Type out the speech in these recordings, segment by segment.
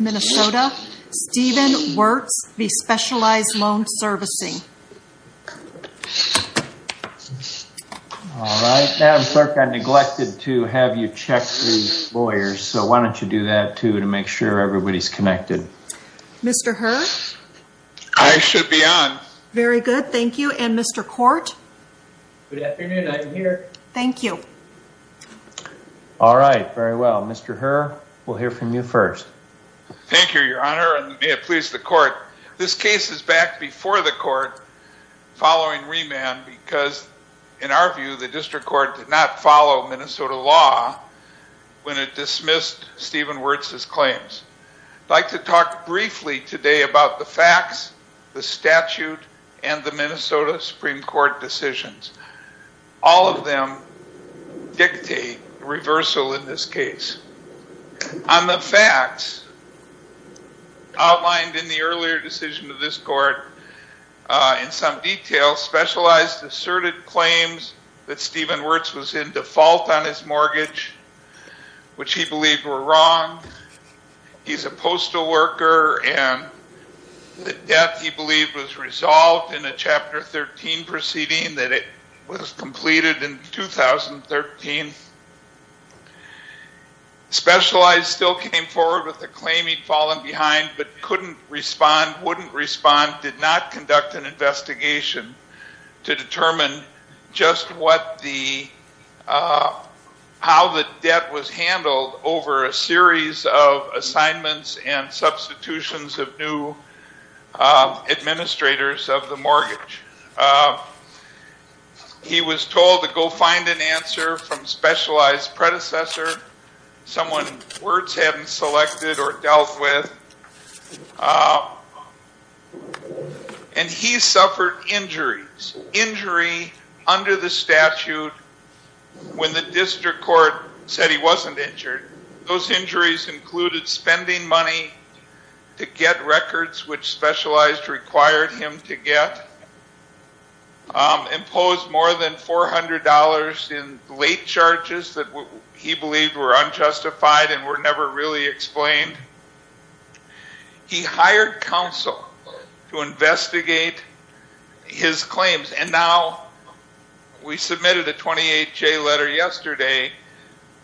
Minnesota, Stephen Wirtz v. Specialized Loan Servicing. All right, Madam Clerk, I neglected to have you check through lawyers, so why don't you do that too to make sure everybody's connected. Mr. Herr? I should be on. Very good, thank you. And Mr. Court? Good afternoon, I'm here. Thank you. All right, very well. Mr. Herr, we'll hear from you first. Thank you, Your Honor, and may it please the Court. This case is back before the Court following remand because, in our view, the District Court did not follow Minnesota law when it dismissed Stephen Wirtz's claims. I'd like to talk briefly today about the facts, the statute, and the Minnesota Supreme Court decisions. All of them dictate reversal in this case. On the facts outlined in the earlier decision of this Court, in some detail, Specialized asserted claims that Stephen Wirtz was in default on his mortgage, which he believed were wrong. He's a postal worker, and the debt, he believed, was resolved in a Chapter 13 proceeding that was completed in 2013. Specialized still came forward with the claim he'd fallen behind, but couldn't respond, wouldn't respond, did not conduct an investigation to determine just what the how the debt was handled over a series of assignments and substitutions of new administrators of the mortgage. He was told to go find an answer from Specialized's predecessor, someone Wirtz hadn't selected or dealt with, and he suffered injuries. Injury under the statute when the district court said he wasn't injured. Those injuries included spending money to get records which Specialized required him to get, imposed more than $400 in late charges that he believed were unjustified and were never really explained. He hired counsel to investigate his claims, and now we submitted a 28-J letter yesterday.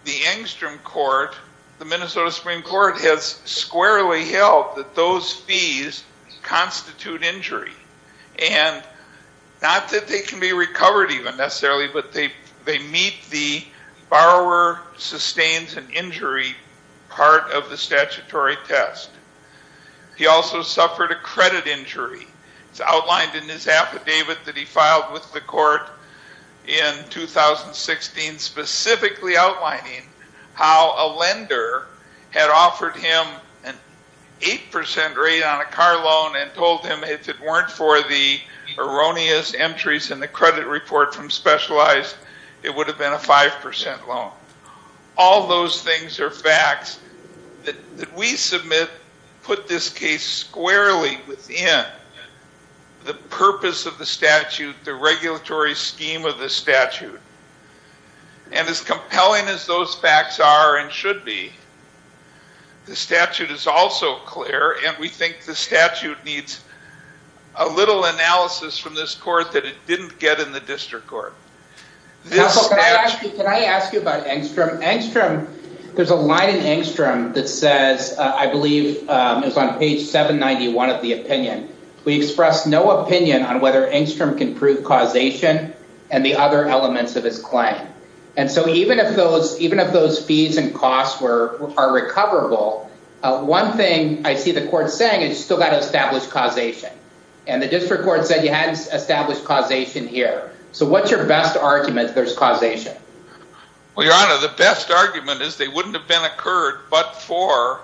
The Engstrom court, the Minnesota Supreme Court, has squarely held that those fees constitute injury, and not that they can be recovered even necessarily, but they meet the statutory test. He also suffered a credit injury. It's outlined in his affidavit that he filed with the court in 2016 specifically outlining how a lender had offered him an 8% rate on a car loan and told him if it weren't for the erroneous entries in the credit report from Specialized, it would have been a 5% loan. All those things are facts that we submit put this case squarely within the purpose of the statute, the regulatory scheme of the statute. And as compelling as those facts are and should be, the statute is also clear, and we think the statute needs a little analysis from this court that it didn't get in the district court. Can I ask you about Engstrom? There's a line in Engstrom that says, I believe it's on page 791 of the opinion, we express no opinion on whether Engstrom can prove causation and the other elements of his claim. Even if those fees and costs are recoverable, one thing I see the court saying is you still got to establish causation. And the district court said you had established causation here. So what's your best argument there's causation? Well, Your Honor, the best argument is they wouldn't have been occurred but for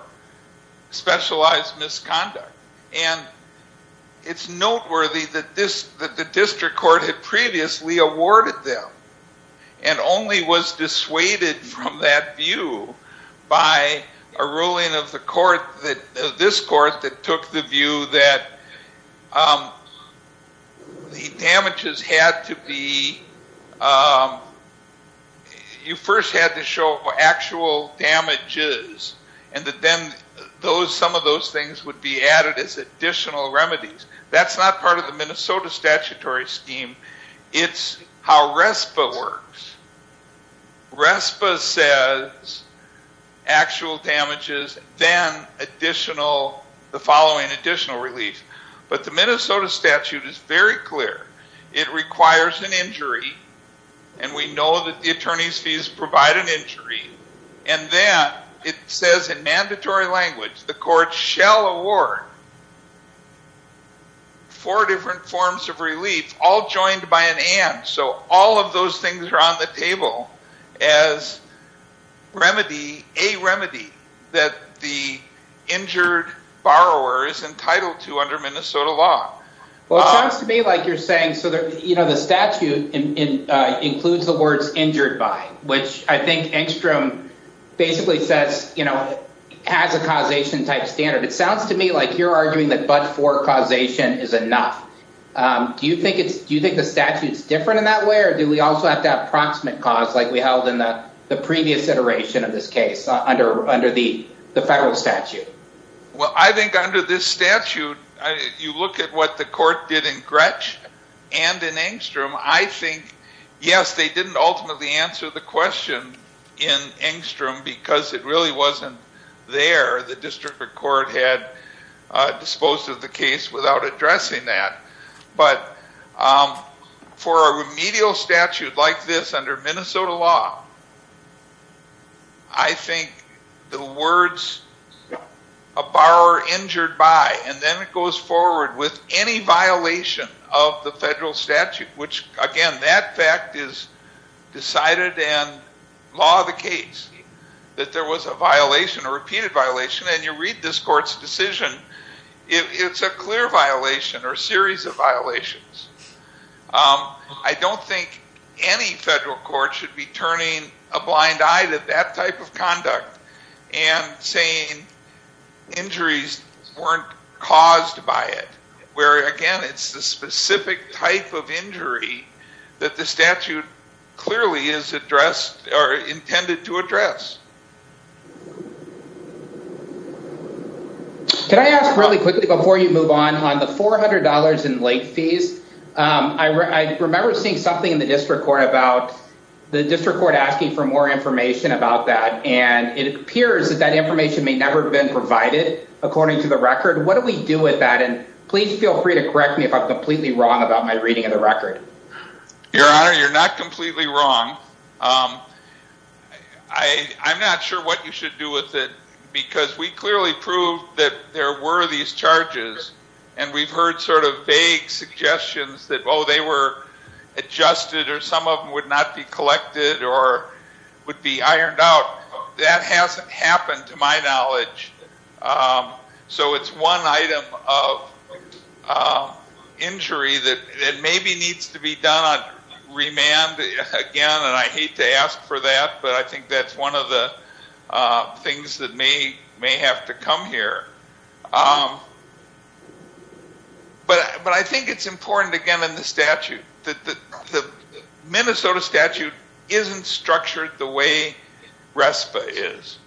specialized misconduct. And it's noteworthy that the district court had previously awarded them and only was this court that took the view that the damages had to be, you first had to show actual damages and that then some of those things would be added as additional remedies. That's not part of the Minnesota statutory scheme. It's how RESPA works. RESPA says actual damages then additional, the following additional relief. But the Minnesota statute is very clear. It requires an injury and we know that the attorney's fees provide an injury. And then it says in mandatory language, the court shall award four different forms of relief, all joined by an and. So all of those things are on the table as a remedy that the injured borrower is entitled to under Minnesota law. Well, it sounds to me like you're saying the statute includes the words injured by, which I think Engstrom basically says has a causation type standard. It sounds to me like you're arguing that but for causation is enough. Do you think the statute is different in that way or do we also have to have proximate cause like we held in the previous iteration of this case under the federal statute? Well, I think under this statute, you look at what the court did in Gretsch and in Engstrom, I think, yes, they didn't ultimately answer the question in Engstrom because it really wasn't there. The district court had disposed of the case without addressing that. But for a remedial statute like this under Minnesota law, I think the words a borrower injured by, and then it goes forward with any violation of the federal statute, which again, that fact is decided in law of the case, that there was a violation, a repeated violation, and you read this court's decision, it's a clear violation or a series of violations. I don't think any federal court should be turning a blind eye to that type of conduct and saying injuries weren't caused by it, where again, it's the specific type of injury that the statute clearly is addressed or intended to address. Can I ask really quickly before you move on, on the $400 in late fees, I remember seeing something in the district court about the district court asking for more information about that, and it appears that that information may never have been provided according to the record. What do we do with that? And please feel free to correct me if I'm completely wrong about my reading of the record. Your Honor, you're not completely wrong. I'm not sure what you should do with it because we clearly proved that there were these charges, and we've heard sort of vague suggestions that, oh, they were adjusted or some of them would not be collected or would be ironed out. That hasn't happened to my knowledge. So it's one item of injury that maybe needs to be done on remand again, and I hate to ask for that, but I think that's one of the things that may have to come here. But I think it's important, again, in the statute. The Minnesota statute isn't structured the way RESPA is,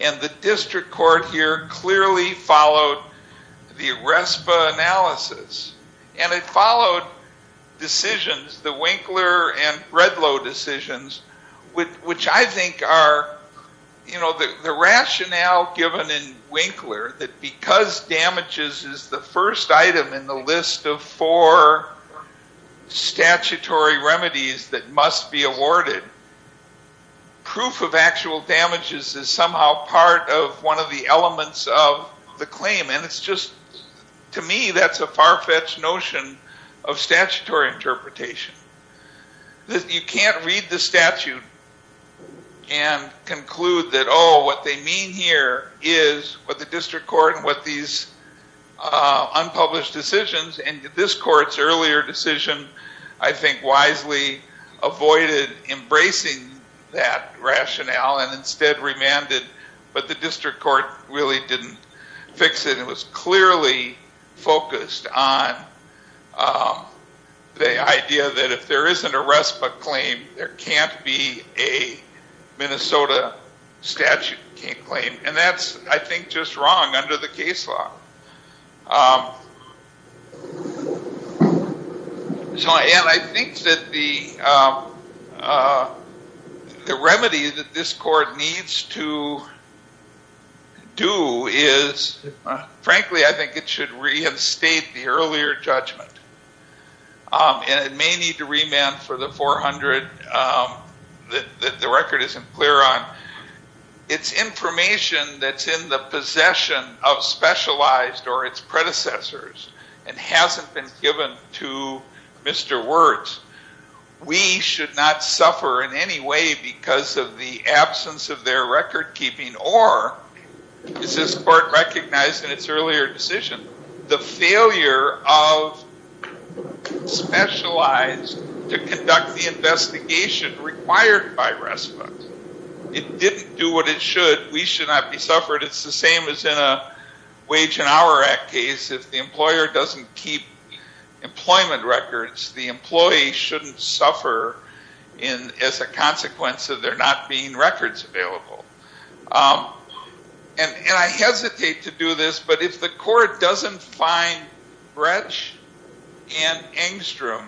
and the district court here clearly followed the RESPA analysis, and it followed decisions, the Winkler and Redlow decisions, which I think are, you know, the rationale given in Winkler that because damages is the first item in the list of four statutory remedies that must be awarded, proof of actual damages is somehow part of one of the elements of the claim, and it's just, to me, that's a far-fetched notion of statutory interpretation. You can't read the statute and conclude that, oh, what they mean here is what the district court and what these unpublished decisions, and this court's earlier decision, I think, wisely avoided embracing that rationale and instead remanded, but the district court really didn't fix it and was clearly focused on the idea that if there isn't a RESPA claim, there can't be a Minnesota statute claim, and that's, I think, just wrong under the case law. And I think that the issue is, frankly, I think it should reinstate the earlier judgment, and it may need to remand for the 400 that the record isn't clear on. It's information that's in the possession of specialized or its predecessors and hasn't been given to Mr. Wirtz. We should not suffer in any way because of the absence of their record-keeping or, as this court recognized in its earlier decision, the failure of specialized to conduct the investigation required by RESPA. It didn't do what it should. We should not be suffered. It's the same as in a Wage and Hour Act case. If the employer doesn't keep records, it's a consequence of there not being records available. And I hesitate to do this, but if the court doesn't find Bretsch and Engstrom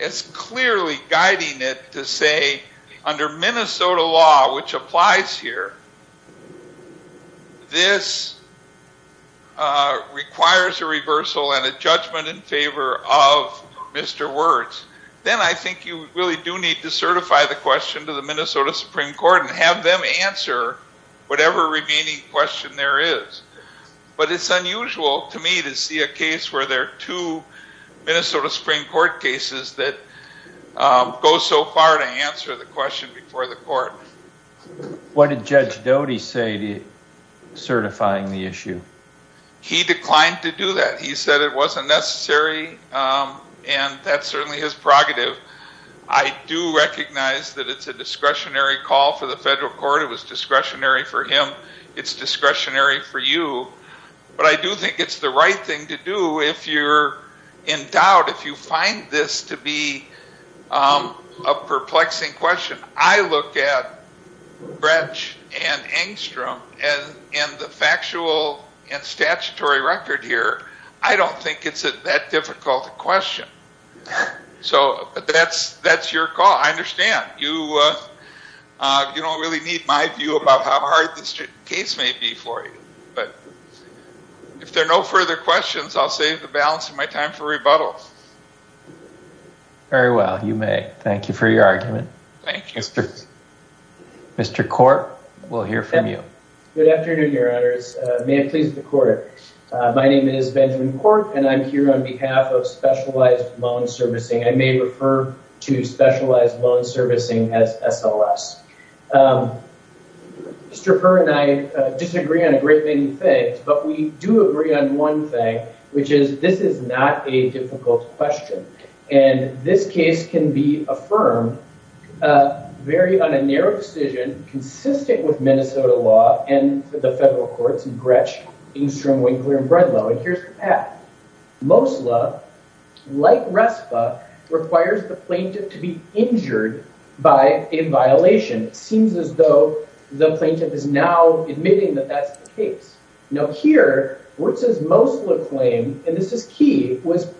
as clearly guiding it to say, under Minnesota law, which applies here, of Mr. Wirtz, then I think you really do need to certify the question to the Minnesota Supreme Court and have them answer whatever remaining question there is. But it's unusual to me to see a case where there are two Minnesota Supreme Court cases that go so far to answer the question before the court. What did Judge Doty say to certifying the issue? He declined to do that. He said it wasn't necessary and that's certainly his prerogative. I do recognize that it's a discretionary call for the federal court. It was discretionary for him. It's discretionary for you. But I do think it's the right thing to do if you're in doubt, if you find this to be a perplexing question. I look at the legal and statutory record here. I don't think it's that difficult a question. So that's your call. I understand. You don't really need my view about how hard this case may be for you. But if there are no further questions, I'll save the balance of my time for rebuttals. Very well. You may. Thank you for your argument. Thank you. Mr. Court, we'll hear from you. Good afternoon, Your Honors. May it please the court. My name is Benjamin Court and I'm here on behalf of Specialized Loan Servicing. I may refer to Specialized Loan Servicing as SLS. Mr. Perr and I disagree on a great many things, but we do agree on one thing, which is this is not a difficult question. And this case can be affirmed on a narrow decision consistent with Minnesota law and the federal courts in Gretsch, Engstrom, Winkler, and Brenlow. And here's the path. Mosler, like Respa, requires the plaintiff to be injured by a violation. It seems as though the plaintiff is now admitting that that's the case. Now here, Wirtz's Mosler claim, and this is key, was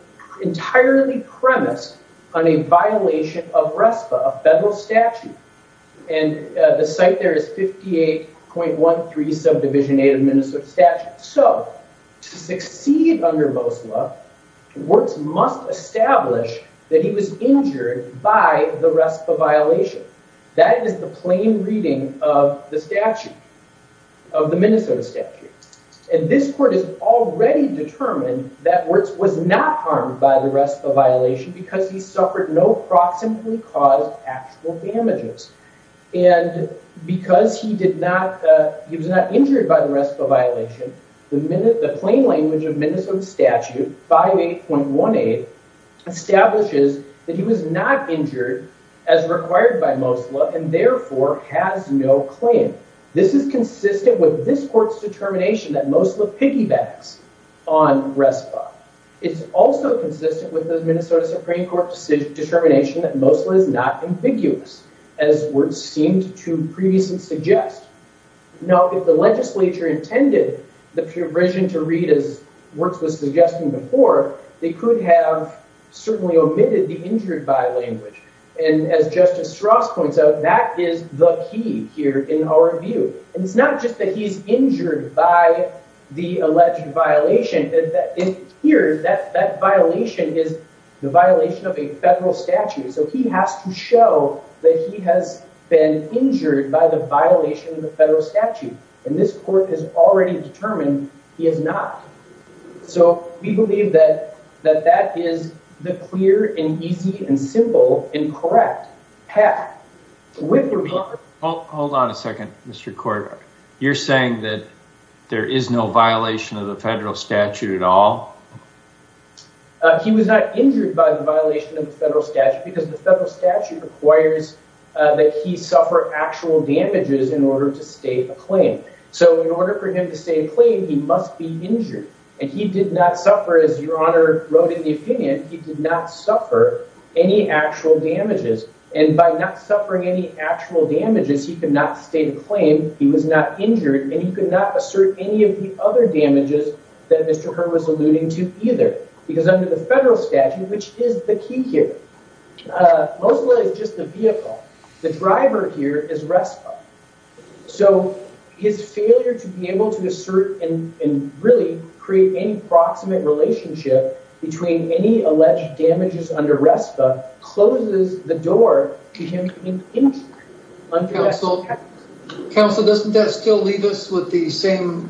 entirely premised on a violation of Respa, a federal statute. And the site there is 58.13 subdivision 8 of the Minnesota statute. So, to succeed under Mosler, Wirtz must establish that he was injured by the Respa violation. That is the plain reading of the statute, of the Minnesota statute. And this court has already determined that Wirtz was not harmed by the Respa violation because he suffered no proximately caused actual damages. And because he did not, he was not injured by the Respa violation, the plain language of Minnesota statute 58.18 establishes that he was not injured as required by Mosler and therefore has no claim. This is consistent with this court's determination that Mosler piggybacks on Respa. It's also consistent with the Minnesota Supreme Court's determination that Mosler is not ambiguous, as Wirtz seemed to previously suggest. Now, if the legislature intended the provision to read as Wirtz was suggesting before, they could have certainly omitted the injured by language. And as Justice Strauss points out, that is the key here in our view. And it's not just that he's injured by the alleged violation. Here, that violation is the violation of a federal statute. So he has to show that he has been injured by the violation of the federal statute. And this court has already determined he has not. So we believe that that is the clear and easy and simple and correct path. Hold on a second, Mr. Court. You're saying that there is no violation of the federal statute at all? He was not saying that he suffered actual damages in order to state a claim. So in order for him to state a claim, he must be injured. And he did not suffer, as Your Honor wrote in the opinion, he did not suffer any actual damages. And by not suffering any actual damages, he could not state a claim, he was not injured, and he could not assert any of the other damages that Mr. Herr was alluding to either. Because under the federal statute, which is the key here, Mosul is just a vehicle. The driver here is RESPA. So his failure to be able to assert and really create any proximate relationship between any alleged damages under RESPA closes the door to him being injured. Counsel, doesn't that still leave us with the same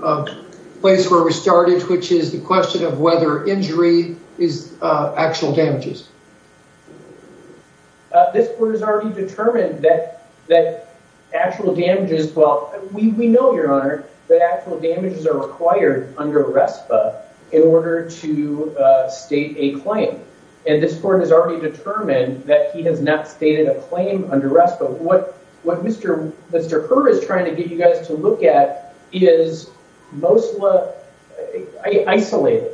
place where we started, which is the question of whether injury is actual damages? This Court has already determined that actual damages, well, we know, Your Honor, that actual damages are required under RESPA in order to state a claim. And this Court has already determined that he has not stated a claim under RESPA. So what Mr. Herr is trying to get you guys to look at is Mosul isolated.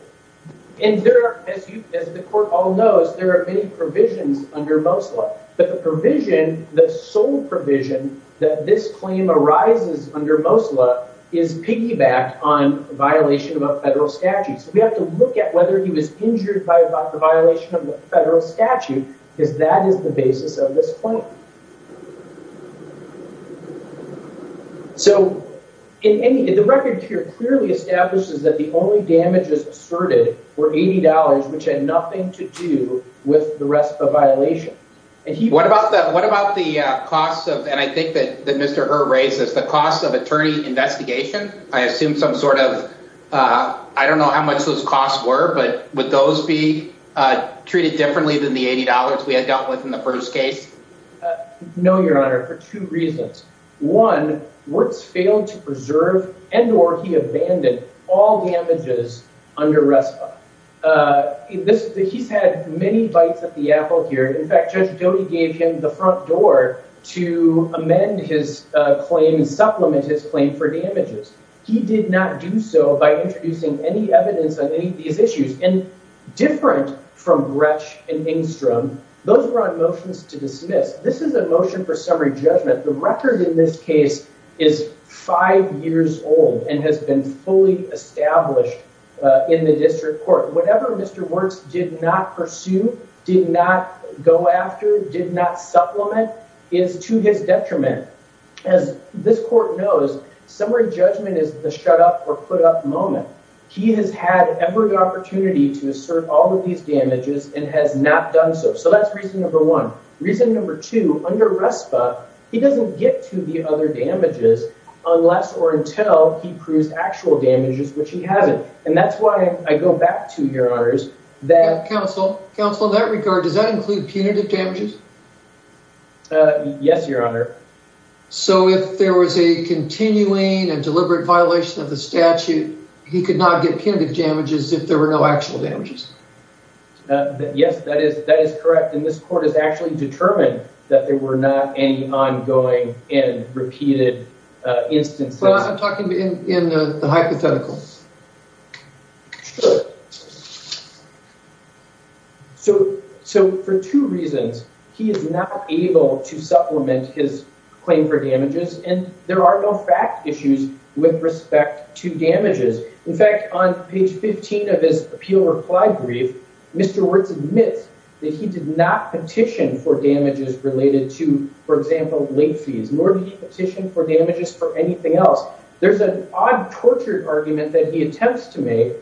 And there are, as the Court all knows, there are many provisions under Mosul. But the provision, the sole provision, that this claim arises under Mosul is piggyback on violation of a federal statute. So we have to look at whether he was injured by the violation of the federal statute, because that is the basis of this claim. So the record here clearly establishes that the only damages asserted were $80, which had nothing to do with the RESPA violation. What about the cost of, and I think that Mr. Herr raises, the cost of attorney investigation? I assume some sort of, I don't know how much those costs were, but would those be treated differently than the $80 we had dealt with in the first case? No, Your Honor, for two reasons. One, Wirtz failed to preserve and or he abandoned all damages under RESPA. He's had many bites at the apple here. In fact, Judge Doty gave him the front door to amend his claim and supplement his claim for damages. He did not do so by introducing any evidence on any of these issues, and different from Gretsch and Engstrom, those were on motions to dismiss. This is a motion for summary judgment. The record in this case is five years old and has been fully established in the district court. Whatever Mr. Wirtz did not pursue, did not go after, did not supplement, is to his detriment. As this court knows, summary judgment is the shut up or put up moment. He has had every opportunity to assert all of these damages and has not done so. So that's reason number one. Reason number two, under RESPA, he doesn't get to the other damages unless or until he goes back to your honors. Counsel, in that regard, does that include punitive damages? Yes, your honor. So if there was a continuing and deliberate violation of the statute, he could not get punitive damages if there were no actual damages? Yes, that is correct. And this court has actually But I'm talking in the hypothetical. Sure. So for two reasons, he is not able to supplement his claim for damages, and there are no fact issues with respect to damages. In fact, on page 15 of his appeal reply brief, Mr. Wirtz admits that he did not petition for damages related to, for example, late fees, nor did he petition for damages for anything else. There's an odd tortured argument that he attempts to make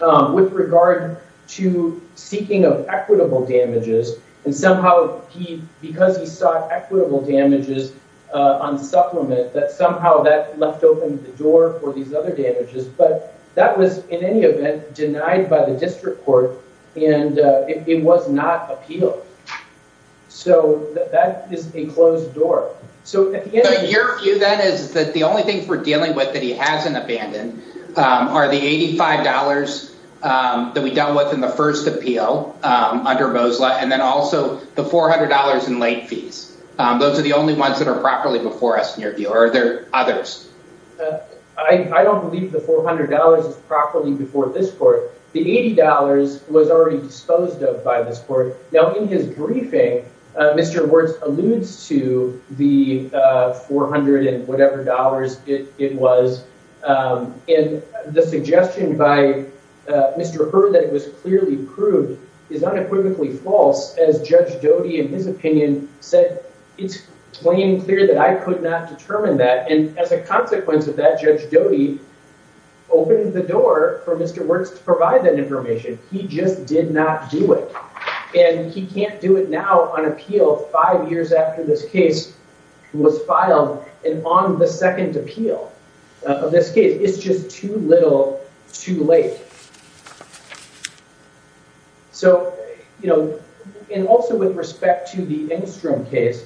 with regard to seeking of equitable damages, and somehow he, because he sought equitable damages on the supplement, that somehow that left open the door for these other damages. But that was, in any event, denied by the district court, and it was not appealed. So that is a closed door. So your view, then, is that the only thing we're dealing with that he hasn't abandoned are the $85 that we dealt with in the first appeal under Mosler, and then also the $400 in late fees. Those are the only ones that are properly before us, in your view. Are there I don't believe the $400 is properly before this court. The $80 was already disposed of by this court. Now, in his briefing, Mr. Wirtz alludes to the $400 and whatever dollars it was, and the suggestion by Mr. Hur that it was clearly proved is unequivocally false, as Judge Doty, in his opinion, said, it's plain clear that I could not determine that, and as a consequence of that, Judge Doty opened the door for Mr. Wirtz to provide that information. He just did not do it, and he can't do it now on appeal five years after this case was filed, and on the second appeal of this case. It's just too little, too late. So, you know, and also with respect to the Engstrom case,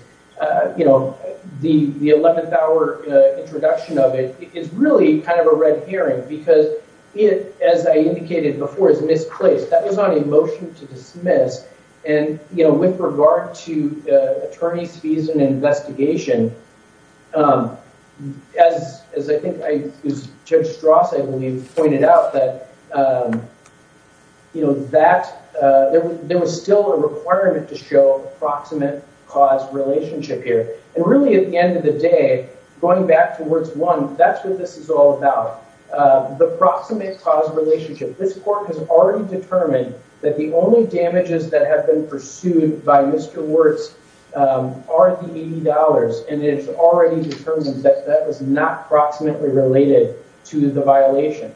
you know, the 11th hour introduction of it is really kind of a red herring, because it, as I indicated before, is misplaced. That was on a motion to dismiss, and, you know, with regard to attorney's fees and investigation, as I think Judge Strauss, I believe, pointed out, that, you know, that there was still a requirement to show proximate cause relationship here, and really at the end of the day, going back to Wirtz 1, that's what this is all about. The proximate cause relationship. This court has already determined that the only and it's already determined that that was not proximately related to the violation.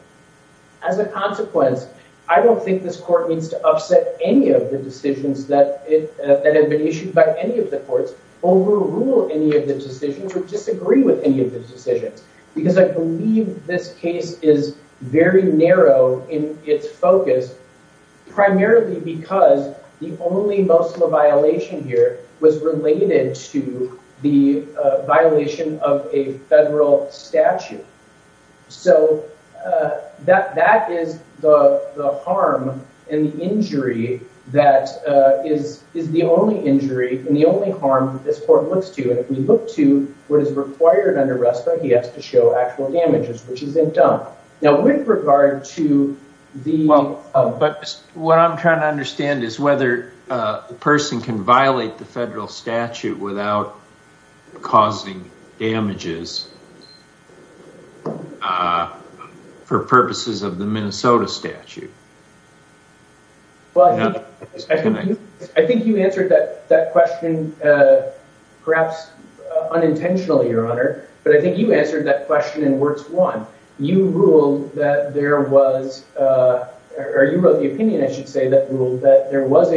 As a consequence, I don't think this court needs to upset any of the decisions that have been issued by any of the courts, overrule any of the decisions, or disagree with any of the decisions, because I believe this case is very narrow in its focus, primarily because the only Muslim violation here was related to the violation of a federal statute. So that is the harm and the injury that is the only injury and the only harm that this court looks to, and if we look to what is required under RESPA, he has to show actual damages, which isn't done. But what I'm trying to understand is whether a person can violate the federal statute without causing damages for purposes of the Minnesota statute. I think you answered that question perhaps that there was a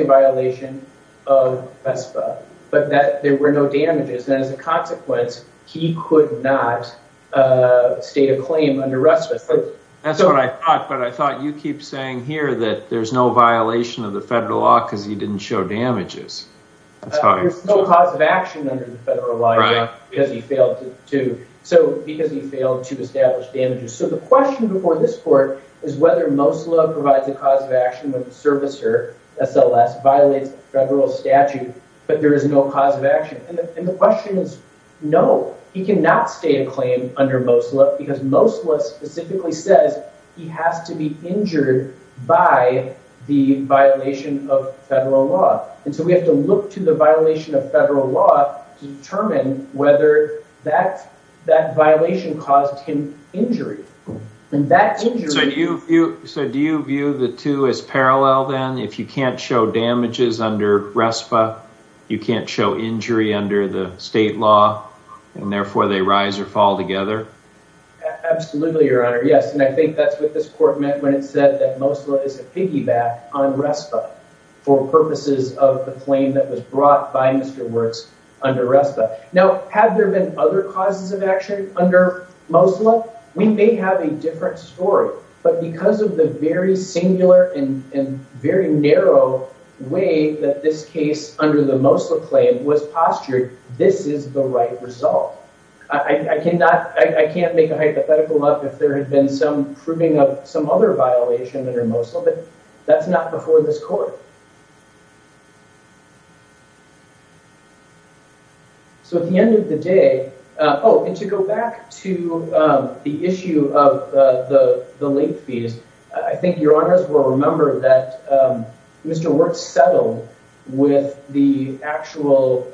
violation of RESPA, but that there were no damages, and as a consequence, he could not state a claim under RESPA. That's what I thought, but I thought you keep saying here that there's no violation of the federal law because he didn't show damages. There's no cause of action under the federal law because he failed to establish damages. So the question before this court is whether Mosulah provides a cause of action when the servicer, SLS, violates the federal statute, but there is no cause of action. And the question is no, he cannot state a claim under Mosulah because Mosulah specifically says he has to be injured by the violation of the federal statute. So do you view the two as parallel then? If you can't show damages under RESPA, you can't show injury under the state law, and therefore they rise or fall together? Absolutely, Your Honor. Yes, and I think that's what this court meant when it said that Mosulah is a piggyback on RESPA for purposes of the claim that was brought by Mr. Wirtz under RESPA. Now, have there been other causes of action under Mosulah? We may have a different story, but because of the very singular and very narrow way that this case under the Mosulah claim was postured, this is the right result. I can't make a hypothetical up if there had been some proving of some other violation under Mosulah, but that's not before this court. So at the end of the day, oh, and to go back to the issue of the late fees, I think Your Honors will remember that Mr. Wirtz settled with the actual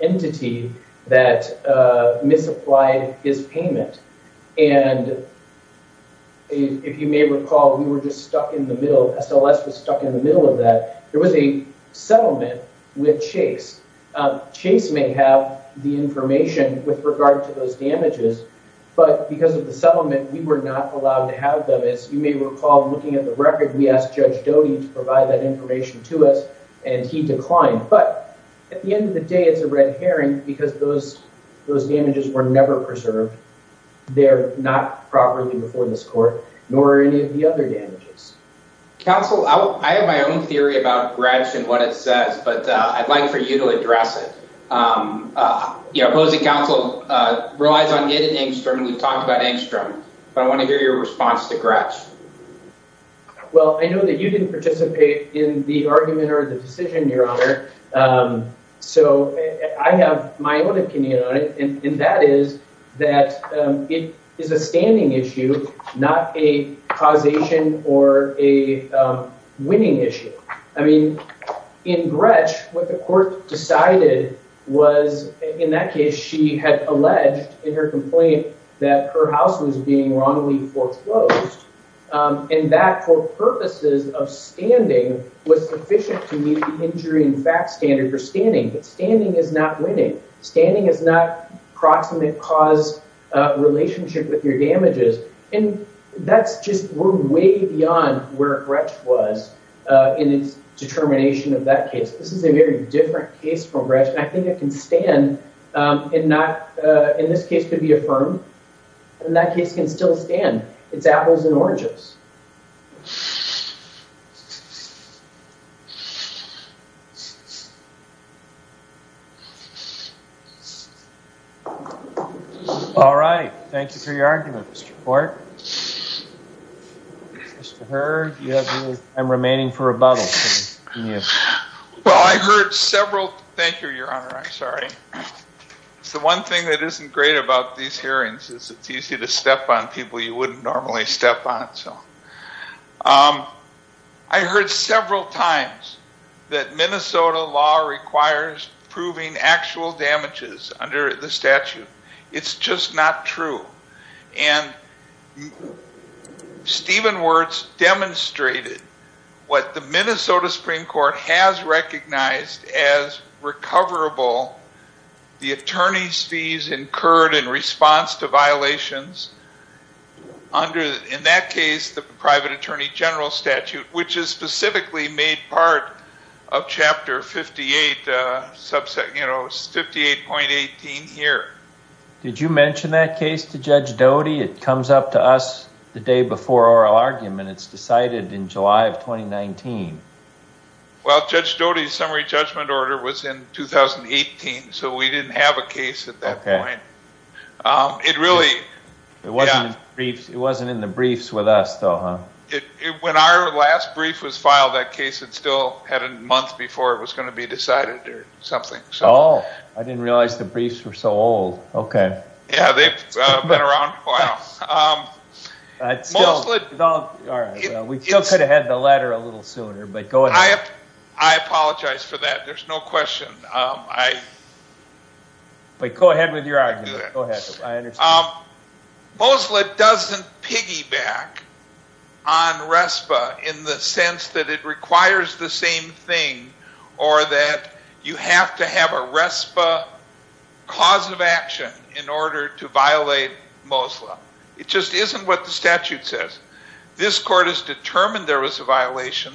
entity that misapplied his payment, and if you may recall, we were just stuck in the middle, SLS was stuck in the middle of that. There was a settlement with Chase. Chase may have the information with regard to those damages, but because of the settlement, we were not allowed to have them. As you may recall, looking at the record, we asked Judge Doty to provide that because those damages were never preserved. They're not properly before this court, nor are any of the other damages. Counsel, I have my own theory about Gretsch and what it says, but I'd like for you to address it. The opposing counsel relies on Ed and Engstrom, and we've talked about Engstrom, but I want to hear your response to Gretsch. Well, I know that you didn't participate in the argument or the decision, Your Honor, so I have my own opinion on it, and that is that it is a standing issue, not a causation or a winning issue. I mean, in Gretsch, what the court decided was, in that case, she had alleged in her complaint that her house was being wrongly foreclosed, and that for purposes of standing was sufficient to meet the injury and facts standard for standing, but standing is not winning. Standing is not proximate cause relationship with your damages, and that's just, we're way beyond where Gretsch was in its determination of that case. This is a very different case from Gretsch, and I think it can stand and not, in this case, could be affirmed, and that case can still stand. It's apples and oranges. All right. Thank you for your argument, Mr. Court. Mr. Heard, I'm remaining for rebuttal. Well, I heard several, thank you, Your Honor, I'm sorry. It's the one thing that isn't great about these hearings is it's easy to step on people you wouldn't normally step on. I heard several times that Minnesota law requires proving actual damages under the statute. It's just not true, and Stephen Wertz demonstrated what the Minnesota Supreme Court has recognized as recoverable. The attorney's fees incurred in response to violations under, in that case, the private attorney general statute, which is specifically made part of Chapter 58, you know, 58.18 here. Did you mention that case to Judge Doty? It comes up to us the day before our argument. It's decided in July of 2019. Well, Judge Doty's summary judgment order was in 2018, so we didn't have a case at that point. It really... It wasn't in the briefs with us, though, huh? When our last brief was filed, that case, it still had a month before it was going to be decided or something. Oh, I didn't realize the briefs were so old. Okay. Yeah, they've been around a while. We still could have had the letter a little sooner, but go ahead. I apologize for that. There's no question. Go ahead with your argument. Go ahead. I understand. Moslett doesn't piggyback on RESPA in the sense that it requires the same thing or that you have to have a RESPA cause of action in order to violate Moslett. It just isn't what the statute says. This court has determined there was a violation.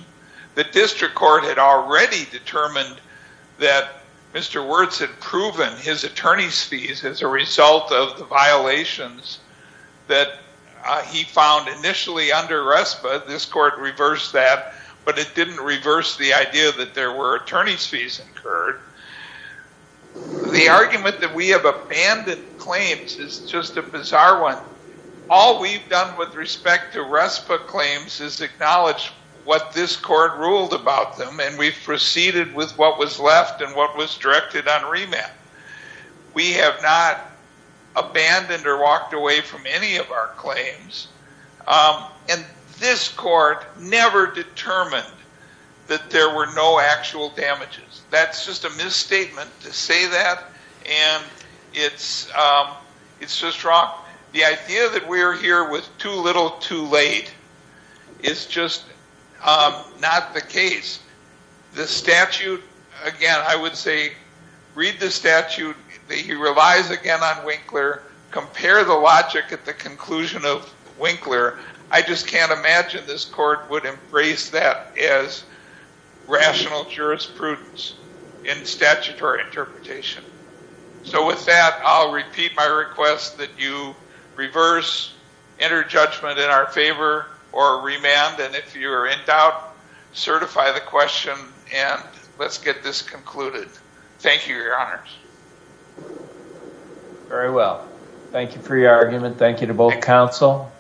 The district court had already determined that Mr. Wertz had proven his attorney's fees as a under RESPA. This court reversed that, but it didn't reverse the idea that there were attorney's fees incurred. The argument that we have abandoned claims is just a bizarre one. All we've done with respect to RESPA claims is acknowledge what this court ruled about them, and we've proceeded with what was left and what was directed on remand. We have not And this court never determined that there were no actual damages. That's just a misstatement to say that, and it's just wrong. The idea that we're here with too little too late is just not the case. The statute, again, I would say read the statute. He relies again on Winkler. I just can't imagine this court would embrace that as rational jurisprudence in statutory interpretation. So with that, I'll repeat my request that you reverse, enter judgment in our favor, or remand, and if you're in doubt, certify the question, and let's get this concluded. Thank you, Your Honors. Very well. Thank you for your argument. Thank you to both counsel.